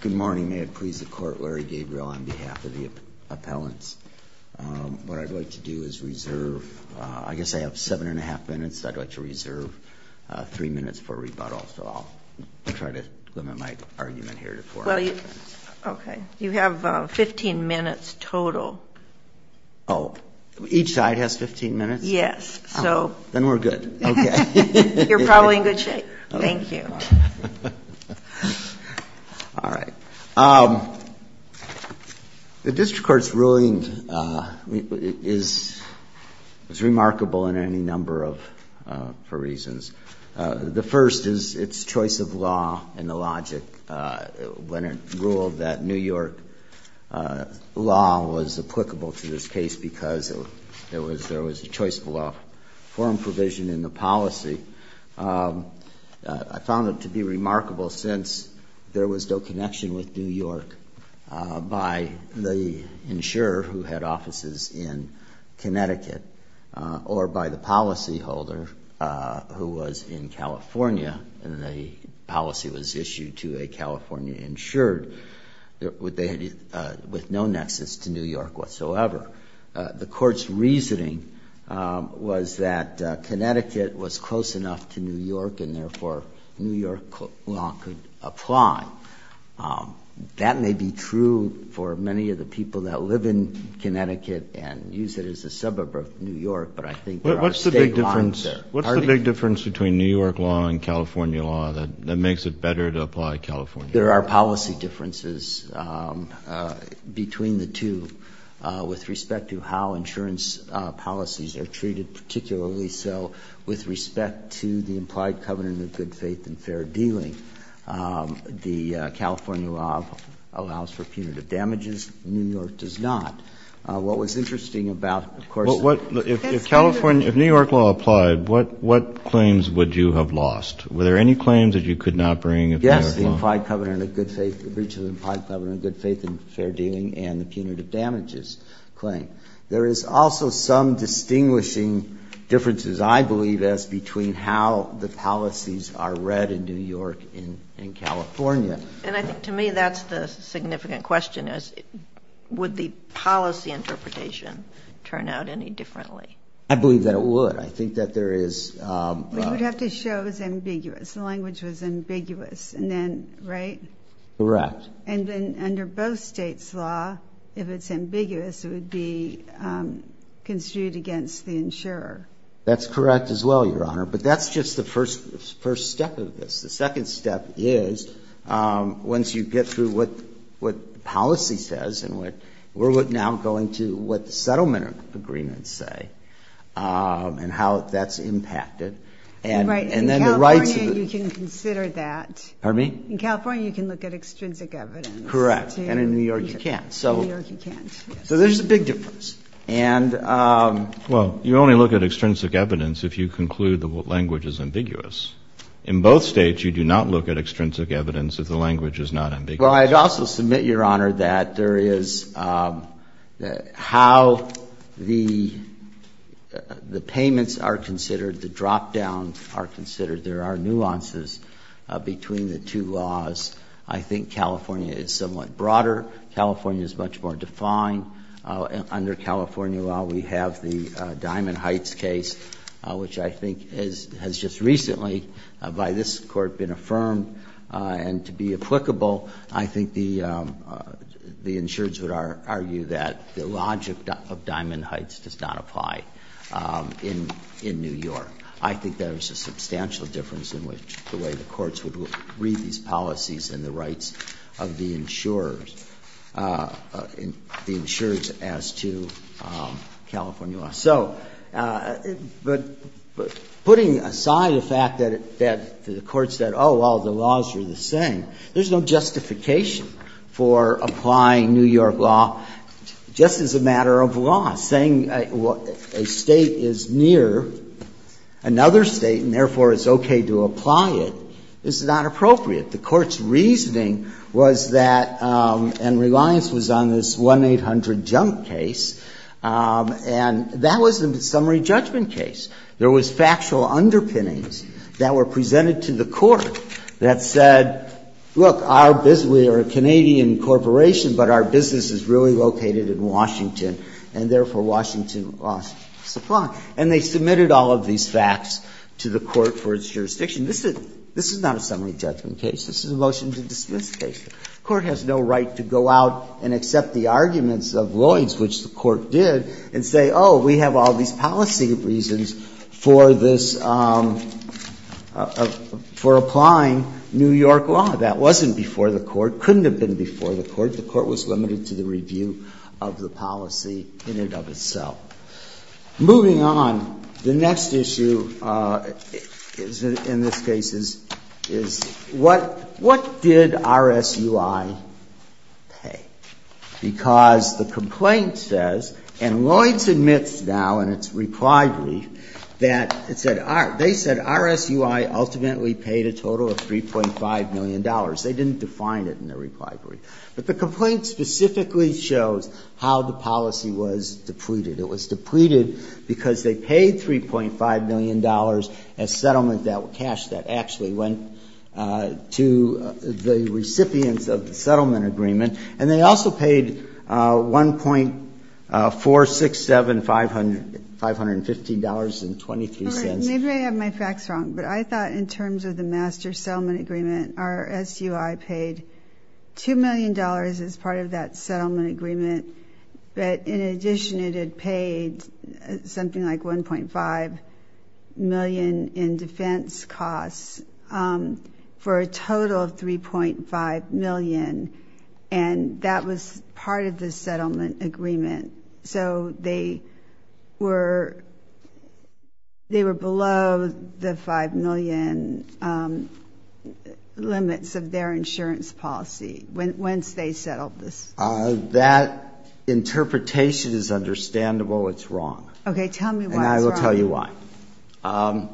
Good morning. May it please the court, Larry Gabriel on behalf of the appellants. What I'd like to do is reserve, I guess I have seven and a half minutes that I'd like to reserve, three minutes for rebuttal. So I'll try to limit my argument here to four. Okay. You have 15 minutes total. Oh, each side has 15 minutes? Yes. Then we're good. You're probably in good shape. Thank you. All right. The district court's ruling is remarkable in any number of reasons. The first is its choice of law and the logic when it ruled that New York law was applicable to this case because there was a choice of law. I found it to be remarkable since there was no connection with New York by the insurer who had offices in Connecticut or by the policyholder who was in California and the policy was issued to a California insured with no nexus to New York whatsoever. The court's reasoning was that Connecticut was close enough to New York and therefore New York law could apply. That may be true for many of the people that live in Connecticut and use it as a suburb of New York, but I think there are state laws there. What's the big difference between New York law and California law that makes it better to apply California law? I think there are policy differences between the two with respect to how insurance policies are treated, particularly so with respect to the implied covenant of good faith and fair dealing. The California law allows for punitive damages. New York does not. If New York law applied, what claims would you have lost? Were there any claims that you could not bring? Yes, the breach of the implied covenant of good faith and fair dealing and the punitive damages claim. There is also some distinguishing differences, I believe, as between how the policies are read in New York and California. And I think to me that's the significant question, is would the policy interpretation turn out any differently? I believe that it would. You would have to show it was ambiguous, the language was ambiguous, right? Correct. And then under both states' law, if it's ambiguous, it would be construed against the insurer. That's correct as well, Your Honor, but that's just the first step of this. The second step is once you get through what the policy says and we're now going to what the settlement agreements say and how that's impacted. In California, you can consider that. Pardon me? In California, you can look at extrinsic evidence. Correct. And in New York, you can't. In New York, you can't. So there's a big difference. Well, you only look at extrinsic evidence if you conclude the language is ambiguous. In both States, you do not look at extrinsic evidence if the language is not ambiguous. Well, I'd also submit, Your Honor, that there is how the payments are considered, the drop-downs are considered. There are nuances between the two laws. I think California is somewhat broader. California is much more defined. Under California law, we have the Diamond Heights case, which I think has just recently, by this Court, been affirmed. And to be applicable, I think the insurers would argue that the logic of Diamond Heights does not apply in New York. I think there is a substantial difference in which the way the courts would read these policies and the rights of the insurers. The insurers as to California law. So putting aside the fact that the courts said, oh, well, the laws are the same, there's no justification for applying New York law just as a matter of law. Saying a State is near another State and, therefore, it's okay to apply it is not appropriate. The Court's reasoning was that, and Reliance was on this 1-800-JUMP case, and that was a summary judgment case. There was factual underpinnings that were presented to the Court that said, look, our business, we are a Canadian corporation, but our business is really located in Washington, and, therefore, Washington lost supply. And they submitted all of these facts to the Court for its jurisdiction. This is not a summary judgment case. This is a motion to dismiss the case. The Court has no right to go out and accept the arguments of Lloyd's, which the Court did, and say, oh, we have all these policy reasons for this, for applying New York law. That wasn't before the Court, couldn't have been before the Court. The Court was limited to the review of the policy in and of itself. Moving on, the next issue in this case is what did RSUI pay? Because the complaint says, and Lloyd's admits now in its reply brief that it said RSUI ultimately paid a total of $3.5 million. They didn't define it in their reply brief. But the complaint specifically shows how the policy was depleted. It was depleted because they paid $3.5 million as settlement cash that actually went to the recipients of the settlement agreement. And they also paid $1.467,515.23. Maybe I have my facts wrong, but I thought in terms of the master settlement agreement, RSUI paid $2 million as part of that settlement agreement. But in addition, it had paid something like $1.5 million in defense costs for a total of $3.5 million. And that was part of the settlement agreement. So they were below the $5 million limits of their insurance policy once they settled this. That interpretation is understandable. It's wrong. Okay. Tell me why it's wrong. And I will tell you why.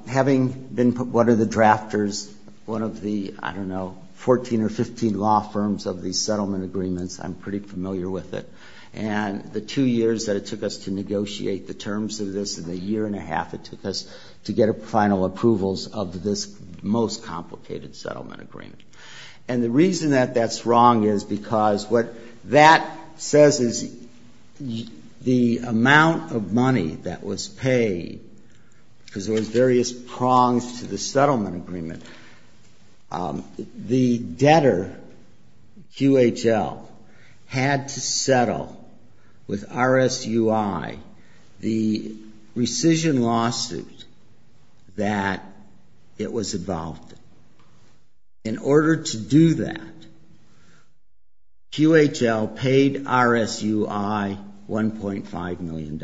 Having been one of the drafters, one of the, I don't know, 14 or 15 law firms of these settlement agreements, I'm pretty familiar with it. And the two years that it took us to negotiate the terms of this and the year and a half it took us to get final approvals of this most complicated settlement agreement. And the reason that that's wrong is because what that says is the amount of money that was paid, because there was various prongs to the settlement agreement, the debtor, QHL, had to settle with RSUI the rescission lawsuit that it was involved in. In order to do that, QHL paid RSUI $1.5 million.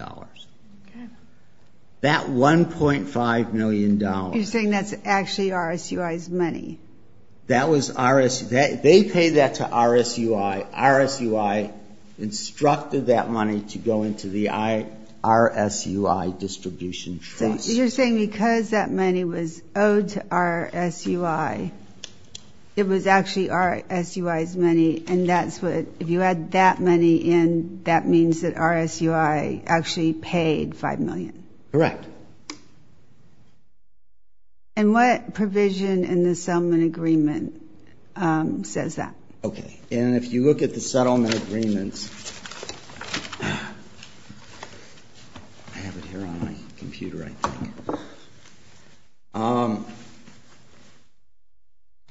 That $1.5 million. You're saying that's actually RSUI's money? They paid that to RSUI. RSUI instructed that money to go into the RSUI distribution trust. So you're saying because that money was owed to RSUI, it was actually RSUI's money, and if you had that money in, that means that RSUI actually paid $5 million? Correct. And what provision in the settlement agreement says that? Okay. And if you look at the settlement agreements,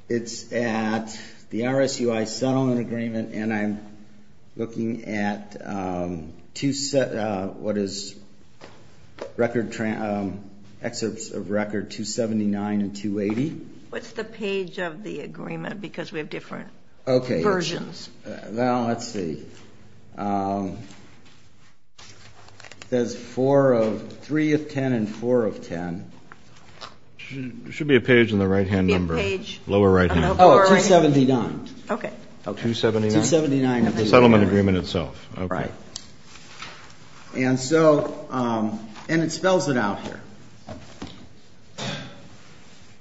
it's at the RSUI settlement agreement, and I'm looking at what is excerpts of record 279 and 280. What's the page of the agreement? Because we have different versions. Well, let's see. It says 3 of 10 and 4 of 10. There should be a page on the right-hand number, lower right-hand. Oh, 279. Okay. 279 of the settlement agreement itself. Right. And so it spells it out here.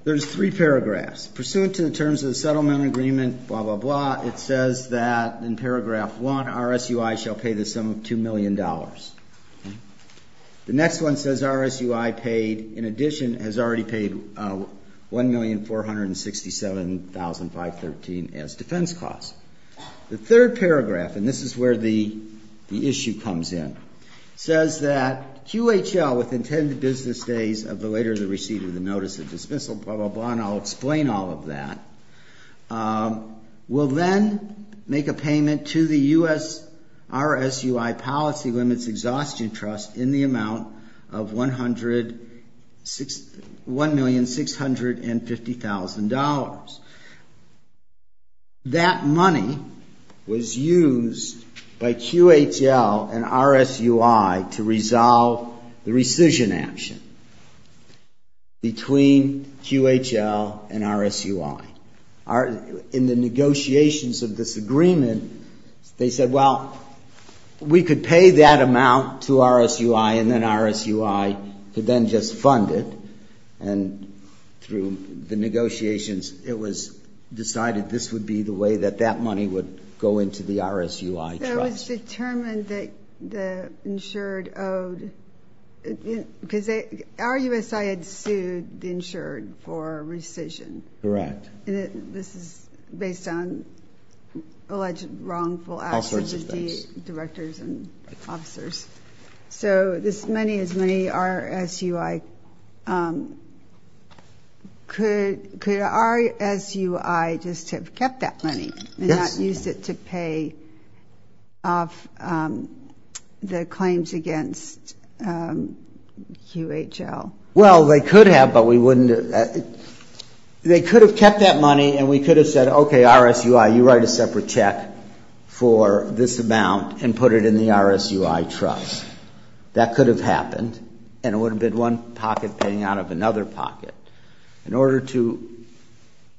There's three paragraphs. Pursuant to the terms of the settlement agreement, blah, blah, blah, it says that in paragraph 1, RSUI shall pay the sum of $2 million. Okay. The next one says RSUI paid, in addition, has already paid $1,467,513 as defense costs. The third paragraph, and this is where the issue comes in, says that QHL, with intended business days of the later receipt of the notice of dismissal, blah, blah, blah, and I'll explain all of that, will then make a payment to the U.S. RSUI Policy Limits Exhaustion Trust in the amount of $1,650,000. That money was used by QHL and RSUI to resolve the rescission action between QHL and RSUI. In the negotiations of this agreement, they said, well, we could pay that amount to RSUI and then RSUI could then just fund it, and through the negotiations, it was decided this would be the way that that money would go into the RSUI trust. It was determined that the insured owed, because RUSI had sued the insured for rescission. Correct. And this is based on alleged wrongful actions of the directors and officers. So this money is money RSUI, could RSUI just have kept that money and not used it to pay off the claims against QHL? Well, they could have, but we wouldn't have. They could have kept that money, and we could have said, okay, RSUI, you write a separate check for this amount and put it in the RSUI trust. That could have happened, and it would have been one pocket paying out of another pocket. In order to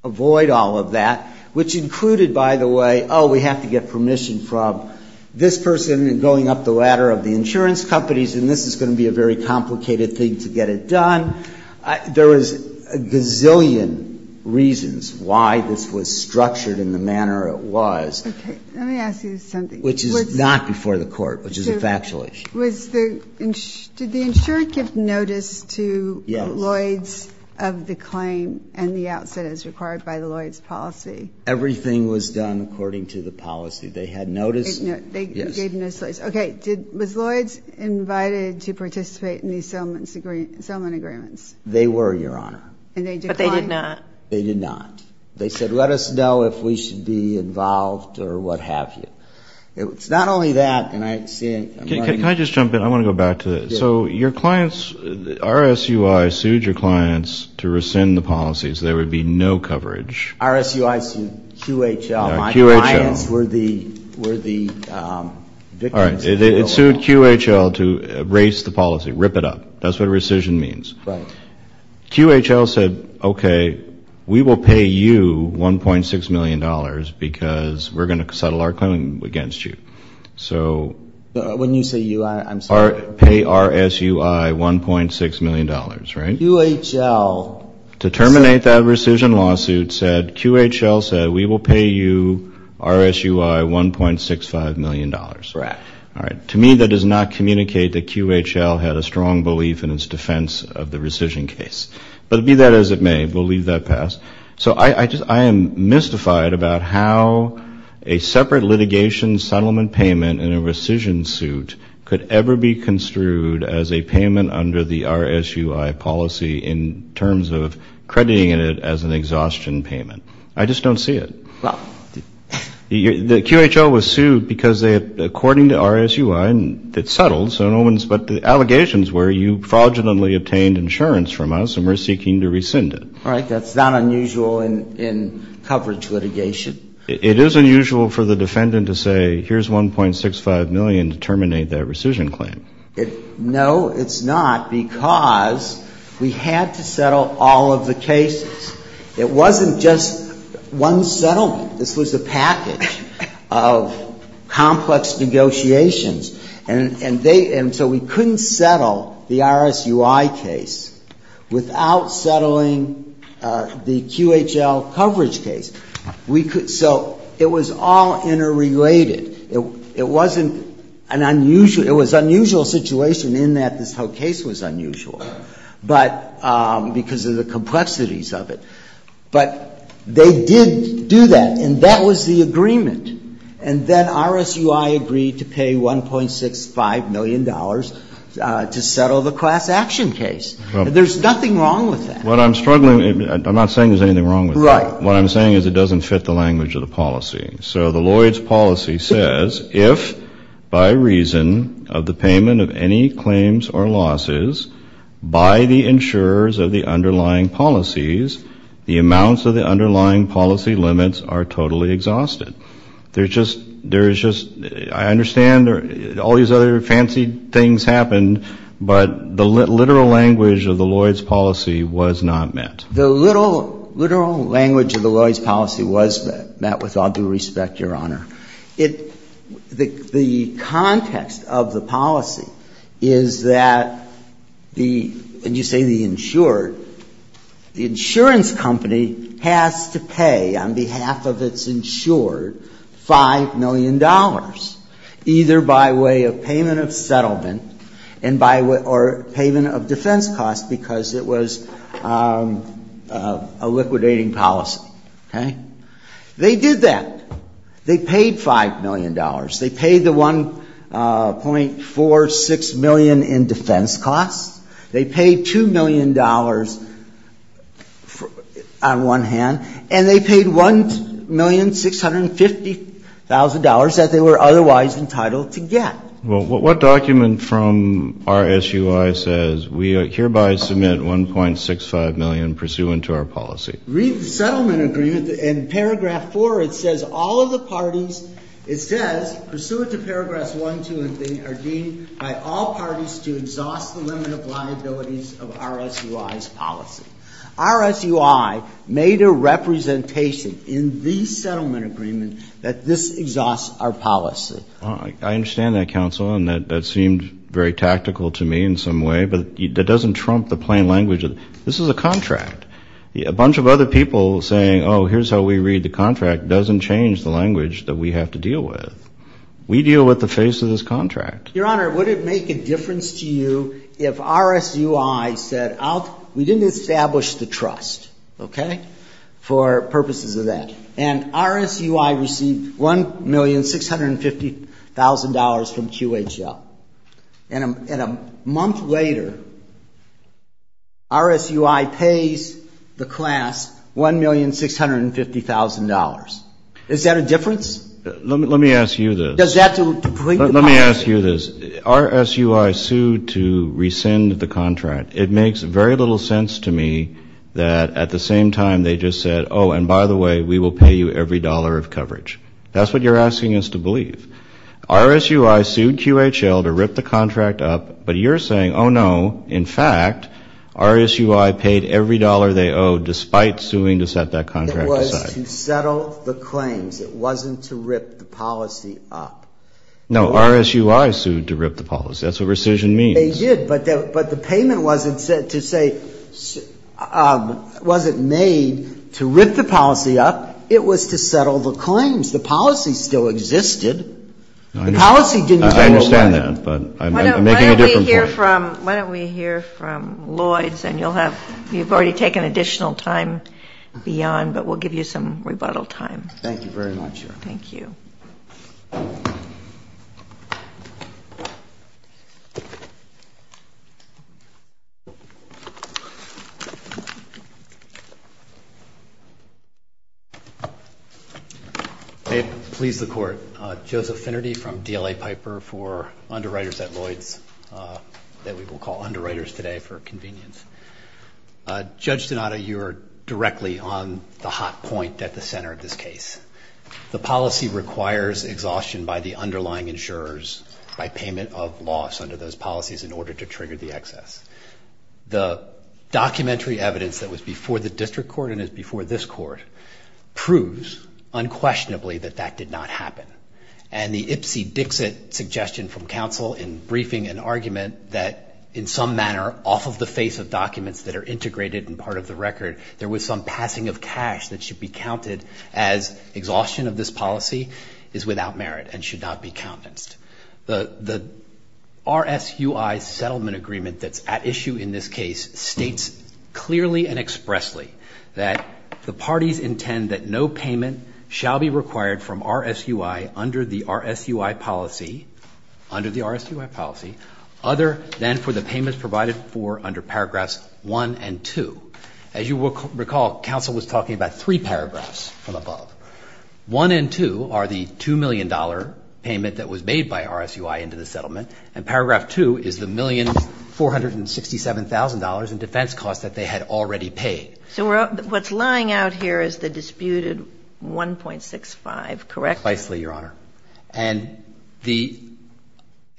avoid all of that, which included, by the way, oh, we have to get permission from this person going up the ladder of the insurance companies, and this is going to be a very complicated thing to get it done. There was a gazillion reasons why this was structured in the manner it was. Okay. Let me ask you something. Which is not before the Court, which is a factual issue. Did the insurer give notice to Lloyds of the claim and the outset as required by the Lloyds policy? Everything was done according to the policy. They had notice. They gave notice. Yes. Okay. Was Lloyds invited to participate in these settlement agreements? They were, Your Honor. And they declined? But they did not. They did not. They said, let us know if we should be involved or what have you. It's not only that. Can I just jump in? I want to go back to this. So your clients, RSUI sued your clients to rescind the policy so there would be no coverage. RSUI sued QHL. QHL. My clients were the victims. All right. It sued QHL to erase the policy, rip it up. That's what rescission means. Right. QHL said, okay, we will pay you $1.6 million because we're going to settle our claim against you. So when you say you, I'm sorry. Pay RSUI $1.6 million, right? QHL. To terminate that rescission lawsuit said QHL said we will pay you RSUI $1.65 million. Right. All right. To me that does not communicate that QHL had a strong belief in its defense of the rescission case. But be that as it may, we'll leave that past. So I am mystified about how a separate litigation settlement payment in a rescission suit could ever be construed as a payment under the RSUI policy in terms of crediting it as an exhaustion payment. I just don't see it. The QHL was sued because they had, according to RSUI, it settled, but the allegations were you fraudulently obtained insurance from us and we're seeking to rescind it. All right. That's not unusual in coverage litigation. It is unusual for the defendant to say here's $1.65 million to terminate that rescission claim. No, it's not because we had to settle all of the cases. It wasn't just one settlement. This was a package of complex negotiations. And so we couldn't settle the RSUI case without settling the QHL coverage case. So it was all interrelated. It wasn't an unusual, it was an unusual situation in that this whole case was unusual, but because of the complexities of it. But they did do that. And that was the agreement. And then RSUI agreed to pay $1.65 million to settle the class action case. There's nothing wrong with that. What I'm struggling, I'm not saying there's anything wrong with that. Right. What I'm saying is it doesn't fit the language of the policy. So the Lloyd's policy says, if by reason of the payment of any claims or losses by the insurers of the underlying policies, the amounts of the underlying policy limits are totally exhausted. There's just, there's just, I understand all these other fancy things happened, but the literal language of the Lloyd's policy was not met. The literal language of the Lloyd's policy was met with all due respect, Your Honor. It, the context of the policy is that the, when you say the insured, the insurance company has to pay on behalf of its insured $5 million, either by way of payment of settlement and by, or payment of defense costs because it was a liquidating policy. Okay. They did that. They paid $5 million. They paid the $1.46 million in defense costs. They paid $2 million on one hand. And they paid $1,650,000 that they were otherwise entitled to get. Well, what document from RSUI says we hereby submit $1.65 million pursuant to our policy? Read the settlement agreement. In paragraph four, it says all of the parties, it says, pursuant to paragraph one, two, are deemed by all parties to exhaust the limit of liabilities of RSUI's policy. RSUI made a representation in the settlement agreement that this exhausts our policy. I understand that, counsel, and that seemed very tactical to me in some way, but that doesn't trump the plain language. This is a contract. A bunch of other people saying, oh, here's how we read the contract doesn't change the language that we have to deal with. We deal with the face of this contract. Your Honor, would it make a difference to you if RSUI said, we didn't establish the trust, okay, for purposes of that. And RSUI received $1,650,000 from QHL. And a month later, RSUI pays the class $1,650,000. Is that a difference? Let me ask you this. Let me ask you this. RSUI sued to rescind the contract. It makes very little sense to me that at the same time they just said, oh, and by the way, we will pay you every dollar of coverage. That's what you're asking us to believe. RSUI sued QHL to rip the contract up, but you're saying, oh, no, in fact, RSUI paid every dollar they owed despite suing to set that contract aside. It was to settle the claims. It wasn't to rip the policy up. No, RSUI sued to rip the policy. That's what rescission means. But the payment wasn't made to rip the policy up. It was to settle the claims. The policy still existed. The policy didn't go away. I understand that, but I'm making a different point. Why don't we hear from Lloyds, and you've already taken additional time beyond, but we'll give you some rebuttal time. Thank you very much, Your Honor. Thank you. May it please the Court. Joseph Finnerty from DLA Piper for underwriters at Lloyds that we will call underwriters today for convenience. Judge Donato, you are directly on the hot point at the center of this case. The policy requires exhaustion by the underlying insurers by payment of loss under those policies in order to trigger the excess. The documentary evidence that was before the district court and is before this court proves unquestionably that that did not happen. And the Ipsy Dixit suggestion from counsel in briefing an argument that in some manner, off of the face of documents that are integrated and part of the record, there was some passing of cash that should be counted as exhaustion of this policy is without merit and should not be countenanced. The RSUI settlement agreement that's at issue in this case states clearly and expressly that the parties intend that no payment shall be required from RSUI under the RSUI policy, under the RSUI policy, other than for the payments provided for under paragraphs one and two. As you will recall, counsel was talking about three paragraphs from above. One and two are the $2 million payment that was made by RSUI into the settlement. And paragraph two is the $1,467,000 in defense costs that they had already paid. So what's lying out here is the disputed 1.65, correct? And the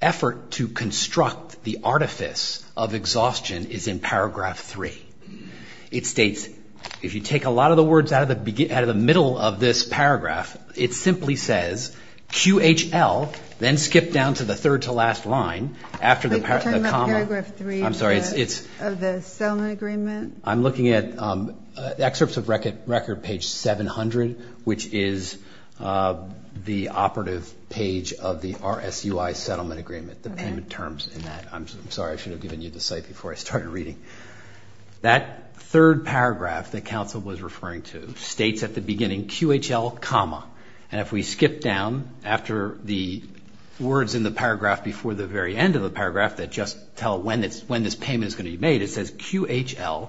effort to construct the artifice of exhaustion is in paragraph three. It states if you take a lot of the words out of the middle of this paragraph, it simply says QHL, then skip down to the third to last line after the comma. I'm sorry, it's. Of the settlement agreement. I'm looking at excerpts of record page 700, which is the operative page of the RSUI settlement agreement, the payment terms in that. I'm sorry, I should have given you the site before I started reading. That third paragraph that counsel was referring to states at the beginning QHL comma. And if we skip down after the words in the paragraph before the very end of the paragraph that just tell when this payment is going to be made, it says QHL,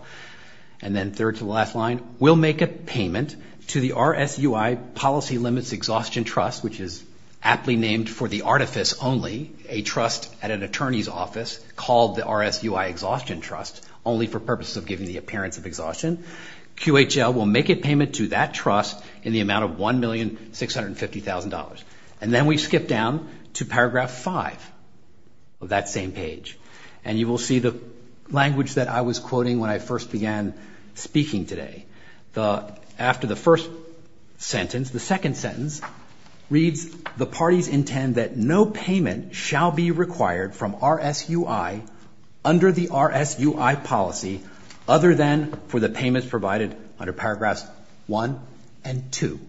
and then third to the last line, will make a payment to the RSUI Policy Limits Exhaustion Trust, which is aptly named for the artifice only, a trust at an attorney's office called the RSUI Exhaustion Trust, only for purposes of giving the appearance of exhaustion. QHL will make a payment to that trust in the amount of $1,650,000. And then we skip down to paragraph five of that same page. And you will see the language that I was quoting when I first began speaking today. After the first sentence, the second sentence reads, the parties intend that no payment shall be required from RSUI under the RSUI policy, other than for the payments provided under paragraphs one and two.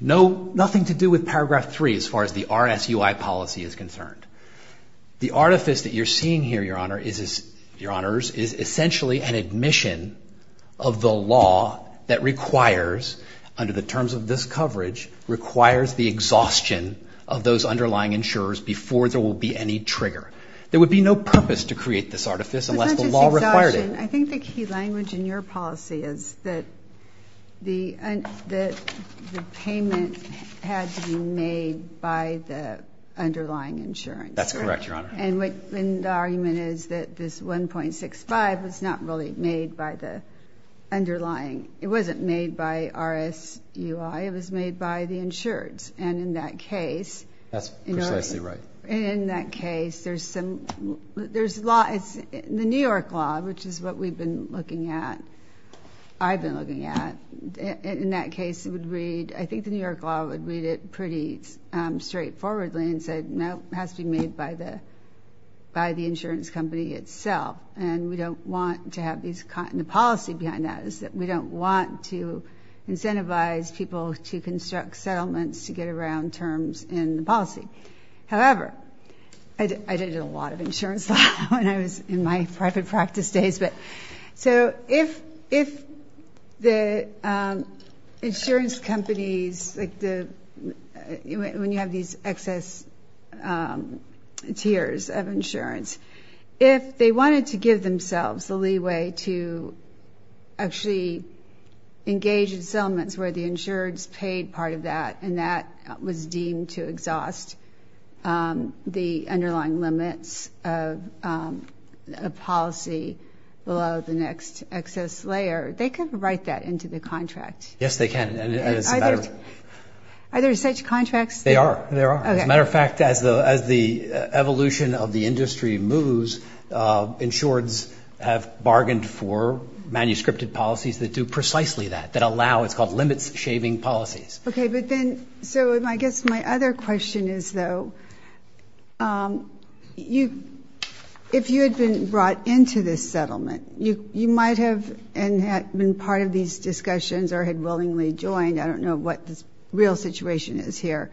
Nothing to do with paragraph three as far as the RSUI policy is concerned. The artifice that you're seeing here, Your Honor, is essentially an admission of the law that requires, under the terms of this coverage, requires the exhaustion of those underlying insurers before there will be any trigger. There would be no purpose to create this artifice unless the law required it. I think the key language in your policy is that the payment had to be made by the underlying insurance. That's correct, Your Honor. And the argument is that this $1,650,000 was not really made by the underlying. It wasn't made by RSUI. It was made by the insureds. And in that case. That's precisely right. In that case, the New York law, which is what we've been looking at, I've been looking at, in that case it would read, I think the New York law would read it pretty straightforwardly and say, no, it has to be made by the insurance company itself. And we don't want to have the policy behind that. We don't want to incentivize people to construct settlements to get around terms in the policy. However, I did a lot of insurance law when I was in my private practice days. So if the insurance companies, when you have these excess tiers of insurance, if they wanted to give themselves the leeway to actually engage in settlements where the insureds paid part of that and that was deemed to exhaust the underlying limits of policy below the next excess layer, they could write that into the contract. Yes, they can. Are there such contracts? There are. As a matter of fact, as the evolution of the industry moves, insureds have bargained for manuscripted policies that do precisely that, that allow, it's called limits shaving policies. Okay, but then, so I guess my other question is, though, if you had been brought into this settlement, you might have been part of these discussions or had willingly joined. I don't know what the real situation is here.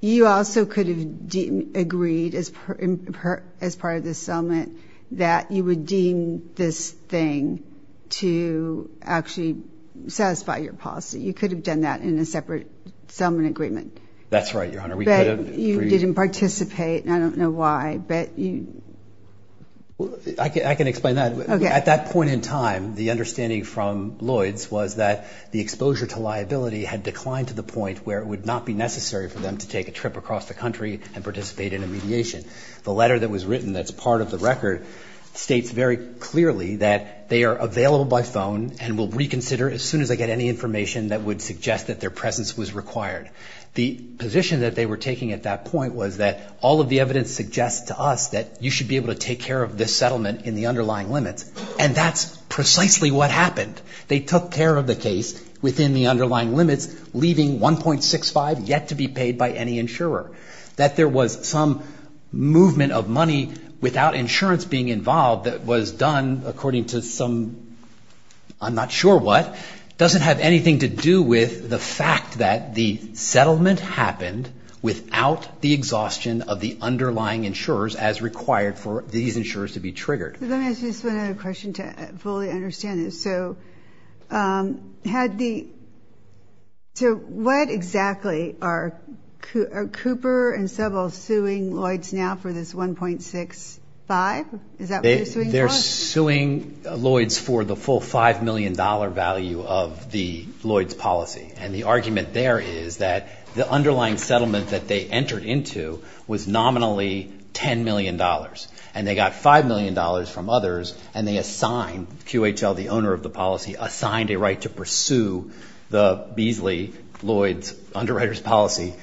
You also could have agreed as part of this settlement that you would deem this thing to actually satisfy your policy. You could have done that in a separate settlement agreement. That's right, Your Honor. But you didn't participate, and I don't know why. I can explain that. Okay. At that point in time, the understanding from Lloyd's was that the exposure to liability had declined to the point where it would not be necessary for them to take a trip across the country and participate in a mediation. The letter that was written that's part of the record states very clearly that they are available by phone and will reconsider as soon as they get any information that would suggest that their presence was required. The position that they were taking at that point was that all of the evidence suggests to us that you should be able to take care of this settlement in the underlying limits, and that's precisely what happened. They took care of the case within the underlying limits, leaving $1.65 yet to be paid by any insurer. That there was some movement of money without insurance being involved that was done according to some, I'm not sure what, doesn't have anything to do with the fact that the settlement happened without the exhaustion of the underlying insurers as required for these insurers to be triggered. Let me ask you just one other question to fully understand this. So what exactly are Cooper and Sebel suing Lloyds now for this $1.65? Is that what they're suing for? They're suing Lloyds for the full $5 million value of the Lloyds policy. And the argument there is that the underlying settlement that they entered into was nominally $10 million. And they got $5 million from others, and they assigned QHL, the owner of the policy, assigned a right to pursue the Beasley-Lloyds underwriter's policy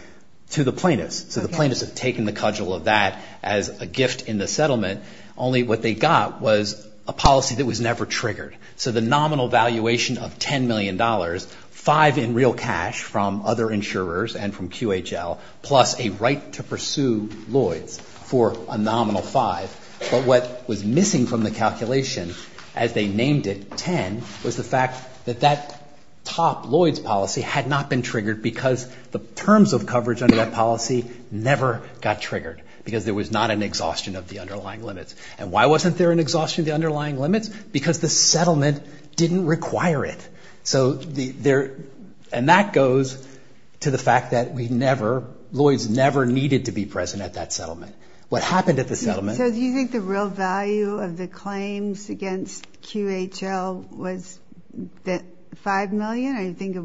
to the plaintiffs. So the plaintiffs have taken the cudgel of that as a gift in the settlement. Only what they got was a policy that was never triggered. So the nominal valuation of $10 million, 5 in real cash from other insurers and from QHL, plus a right to pursue Lloyds for a nominal 5. But what was missing from the calculation as they named it, 10, was the fact that that top Lloyds policy had not been triggered because the terms of coverage under that policy never got triggered because there was not an exhaustion of the underlying limits. And why wasn't there an exhaustion of the underlying limits? Because the settlement didn't require it. And that goes to the fact that Lloyds never needed to be present at that settlement. What happened at the settlement— So do you think the real value of the claims against QHL was that $5 million? Or do you think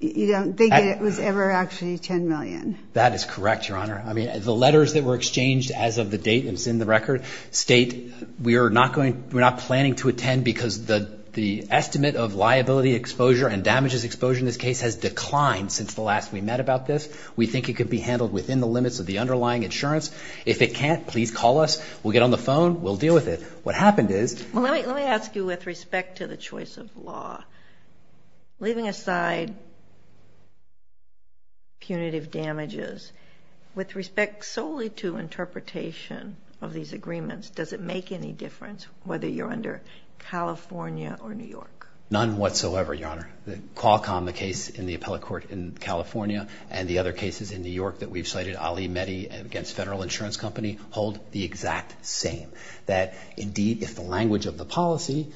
it was ever actually $10 million? That is correct, Your Honor. The letters that were exchanged as of the date that's in the record state, we're not planning to attend because the estimate of liability exposure and damages exposure in this case has declined since the last we met about this. We think it could be handled within the limits of the underlying insurance. If it can't, please call us. We'll get on the phone. We'll deal with it. What happened is— Well, let me ask you with respect to the choice of law. Leaving aside punitive damages, with respect solely to interpretation of these agreements, does it make any difference whether you're under California or New York? None whatsoever, Your Honor. Qualcomm, the case in the appellate court in California, and the other cases in New York that we've cited, Ali Mehdi against Federal Insurance Company, hold the exact same. That, indeed, if the language of the policy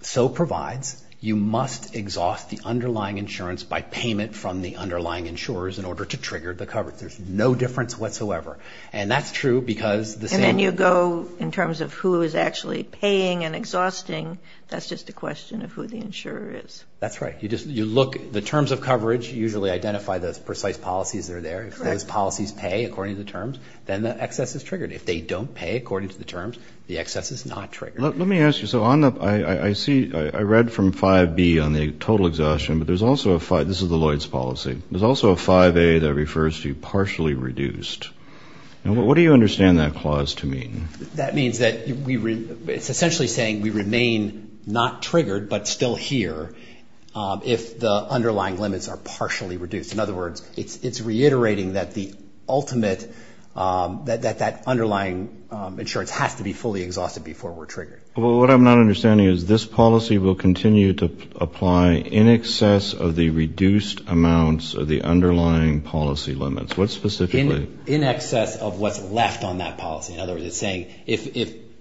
so provides, you must exhaust the underlying insurance by payment from the underlying insurers in order to trigger the coverage. There's no difference whatsoever. And that's true because the same— In terms of who is actually paying and exhausting, that's just a question of who the insurer is. That's right. You look—the terms of coverage usually identify those precise policies that are there. Correct. If those policies pay according to the terms, then the excess is triggered. If they don't pay according to the terms, the excess is not triggered. Let me ask you. So on the—I see—I read from 5B on the total exhaustion, but there's also a—this is the Lloyds policy. There's also a 5A that refers to partially reduced. What do you understand that clause to mean? That means that we—it's essentially saying we remain not triggered but still here if the underlying limits are partially reduced. In other words, it's reiterating that the ultimate— that that underlying insurance has to be fully exhausted before we're triggered. Well, what I'm not understanding is this policy will continue to apply in excess of the reduced amounts of the underlying policy limits. What specifically? In excess of what's left on that policy. In other words, it's saying if,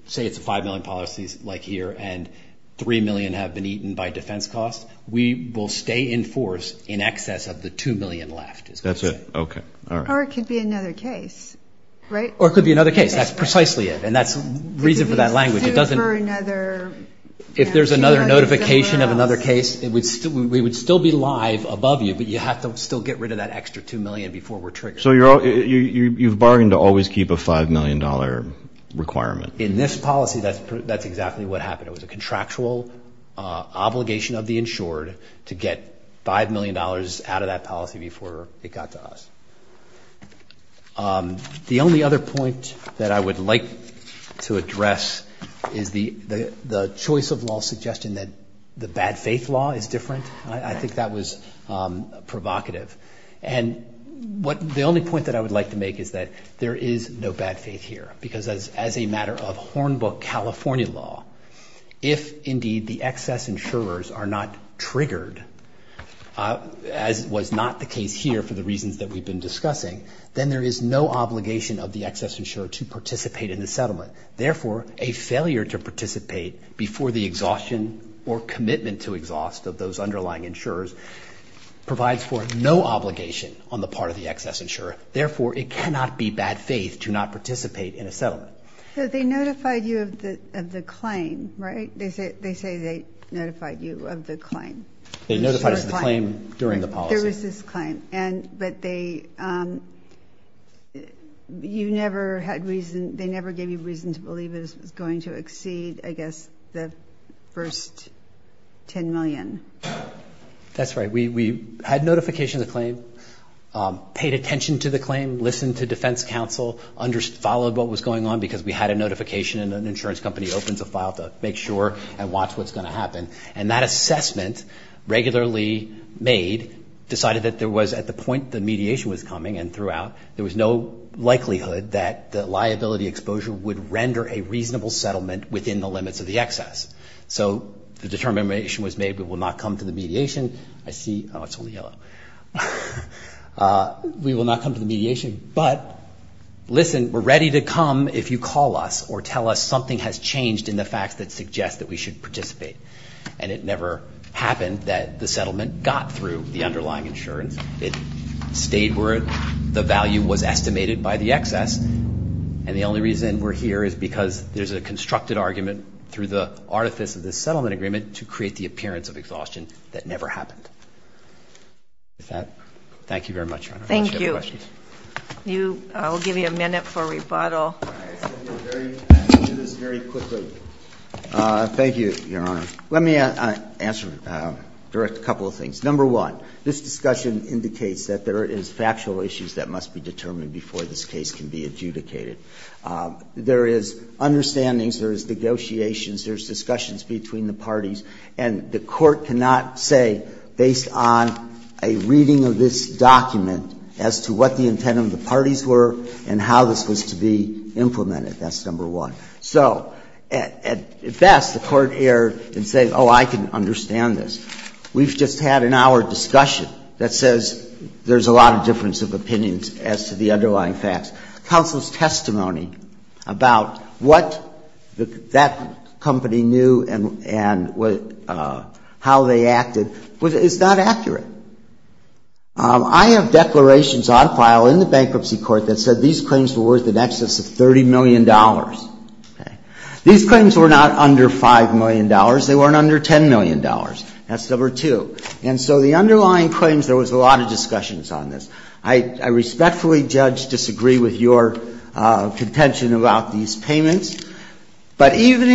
say, it's 5 million policies like here and 3 million have been eaten by defense costs, we will stay in force in excess of the 2 million left. That's it. Okay. All right. Or it could be another case, right? Or it could be another case. And that's the reason for that language. It doesn't— It could be sued for another— If there's another notification of another case, we would still be live above you, but you have to still get rid of that extra 2 million before we're triggered. So you've bargained to always keep a $5 million requirement. In this policy, that's exactly what happened. It was a contractual obligation of the insured to get $5 million out of that policy before it got to us. The only other point that I would like to address is the choice of law suggestion that the bad faith law is different. I think that was provocative. And the only point that I would like to make is that there is no bad faith here because as a matter of Hornbook California law, if indeed the excess insurers are not triggered, as was not the case here for the reasons that we've been discussing, then there is no obligation of the excess insurer to participate in the settlement. Therefore, a failure to participate before the exhaustion or commitment to exhaust of those underlying insurers provides for no obligation on the part of the excess insurer. Therefore, it cannot be bad faith to not participate in a settlement. So they notified you of the claim, right? They say they notified you of the claim. They notified us of the claim during the policy. There was this claim, but they never gave you reason to believe it was going to exceed, I guess, the first $10 million. That's right. We had notification of the claim, paid attention to the claim, listened to defense counsel, followed what was going on because we had a notification and an insurance company opens a file to make sure and watch what's going to happen. And that assessment regularly made decided that there was, at the point the mediation was coming and throughout, there was no likelihood that the liability exposure would render a reasonable settlement within the limits of the excess. So the determination was made we will not come to the mediation. I see, oh, it's only yellow. We will not come to the mediation, but listen, we're ready to come if you call us or tell us something has changed in the facts that suggest that we should participate. And it never happened that the settlement got through the underlying insurance. It stayed where the value was estimated by the excess. And the only reason we're here is because there's a constructed argument through the artifice of this settlement agreement to create the appearance of exhaustion that never happened. With that, thank you very much, Your Honor. Thank you. I'll give you a minute for rebuttal. I'll do this very quickly. Thank you, Your Honor. Let me direct a couple of things. Number one, this discussion indicates that there is factual issues that must be determined before this case can be adjudicated. There is understandings, there is negotiations, there's discussions between the parties, and the Court cannot say based on a reading of this document as to what the intent of the parties were and how this was to be implemented. That's number one. So at best, the Court erred and said, oh, I can understand this. We've just had an hour discussion that says there's a lot of difference of opinions as to the underlying facts. Counsel's testimony about what that company knew and how they acted is not accurate. I have declarations on file in the bankruptcy court that said these claims were worth in excess of $30 million. These claims were not under $5 million. They weren't under $10 million. That's number two. And so the underlying claims, there was a lot of discussions on this. I respectfully, Judge, disagree with your contention about these payments. But even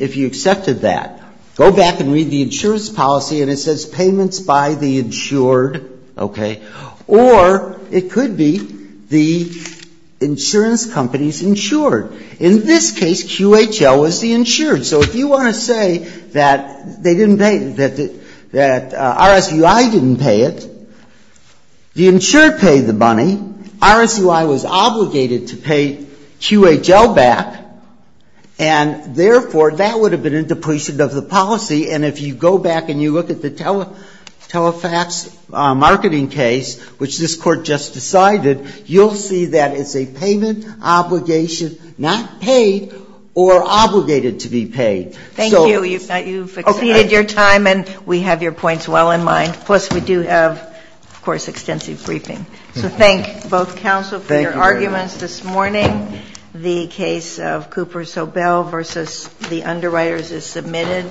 if you accepted that, go back and read the insurance policy and it says payments by the insured, okay, or it could be the insurance company's insured. In this case, QHL was the insured. So if you want to say that they didn't pay, that RSUI didn't pay it, the insured paid the money. RSUI was obligated to pay QHL back. And, therefore, that would have been a depletion of the policy. And if you go back and you look at the Telefax marketing case, which this Court just decided, you'll see that it's a payment obligation not paid or obligated to be paid. So you've exceeded your time and we have your points well in mind. Plus, we do have, of course, extensive briefing. So thank both counsel for your arguments this morning. The case of Cooper Sobel v. The Underwriters is submitted.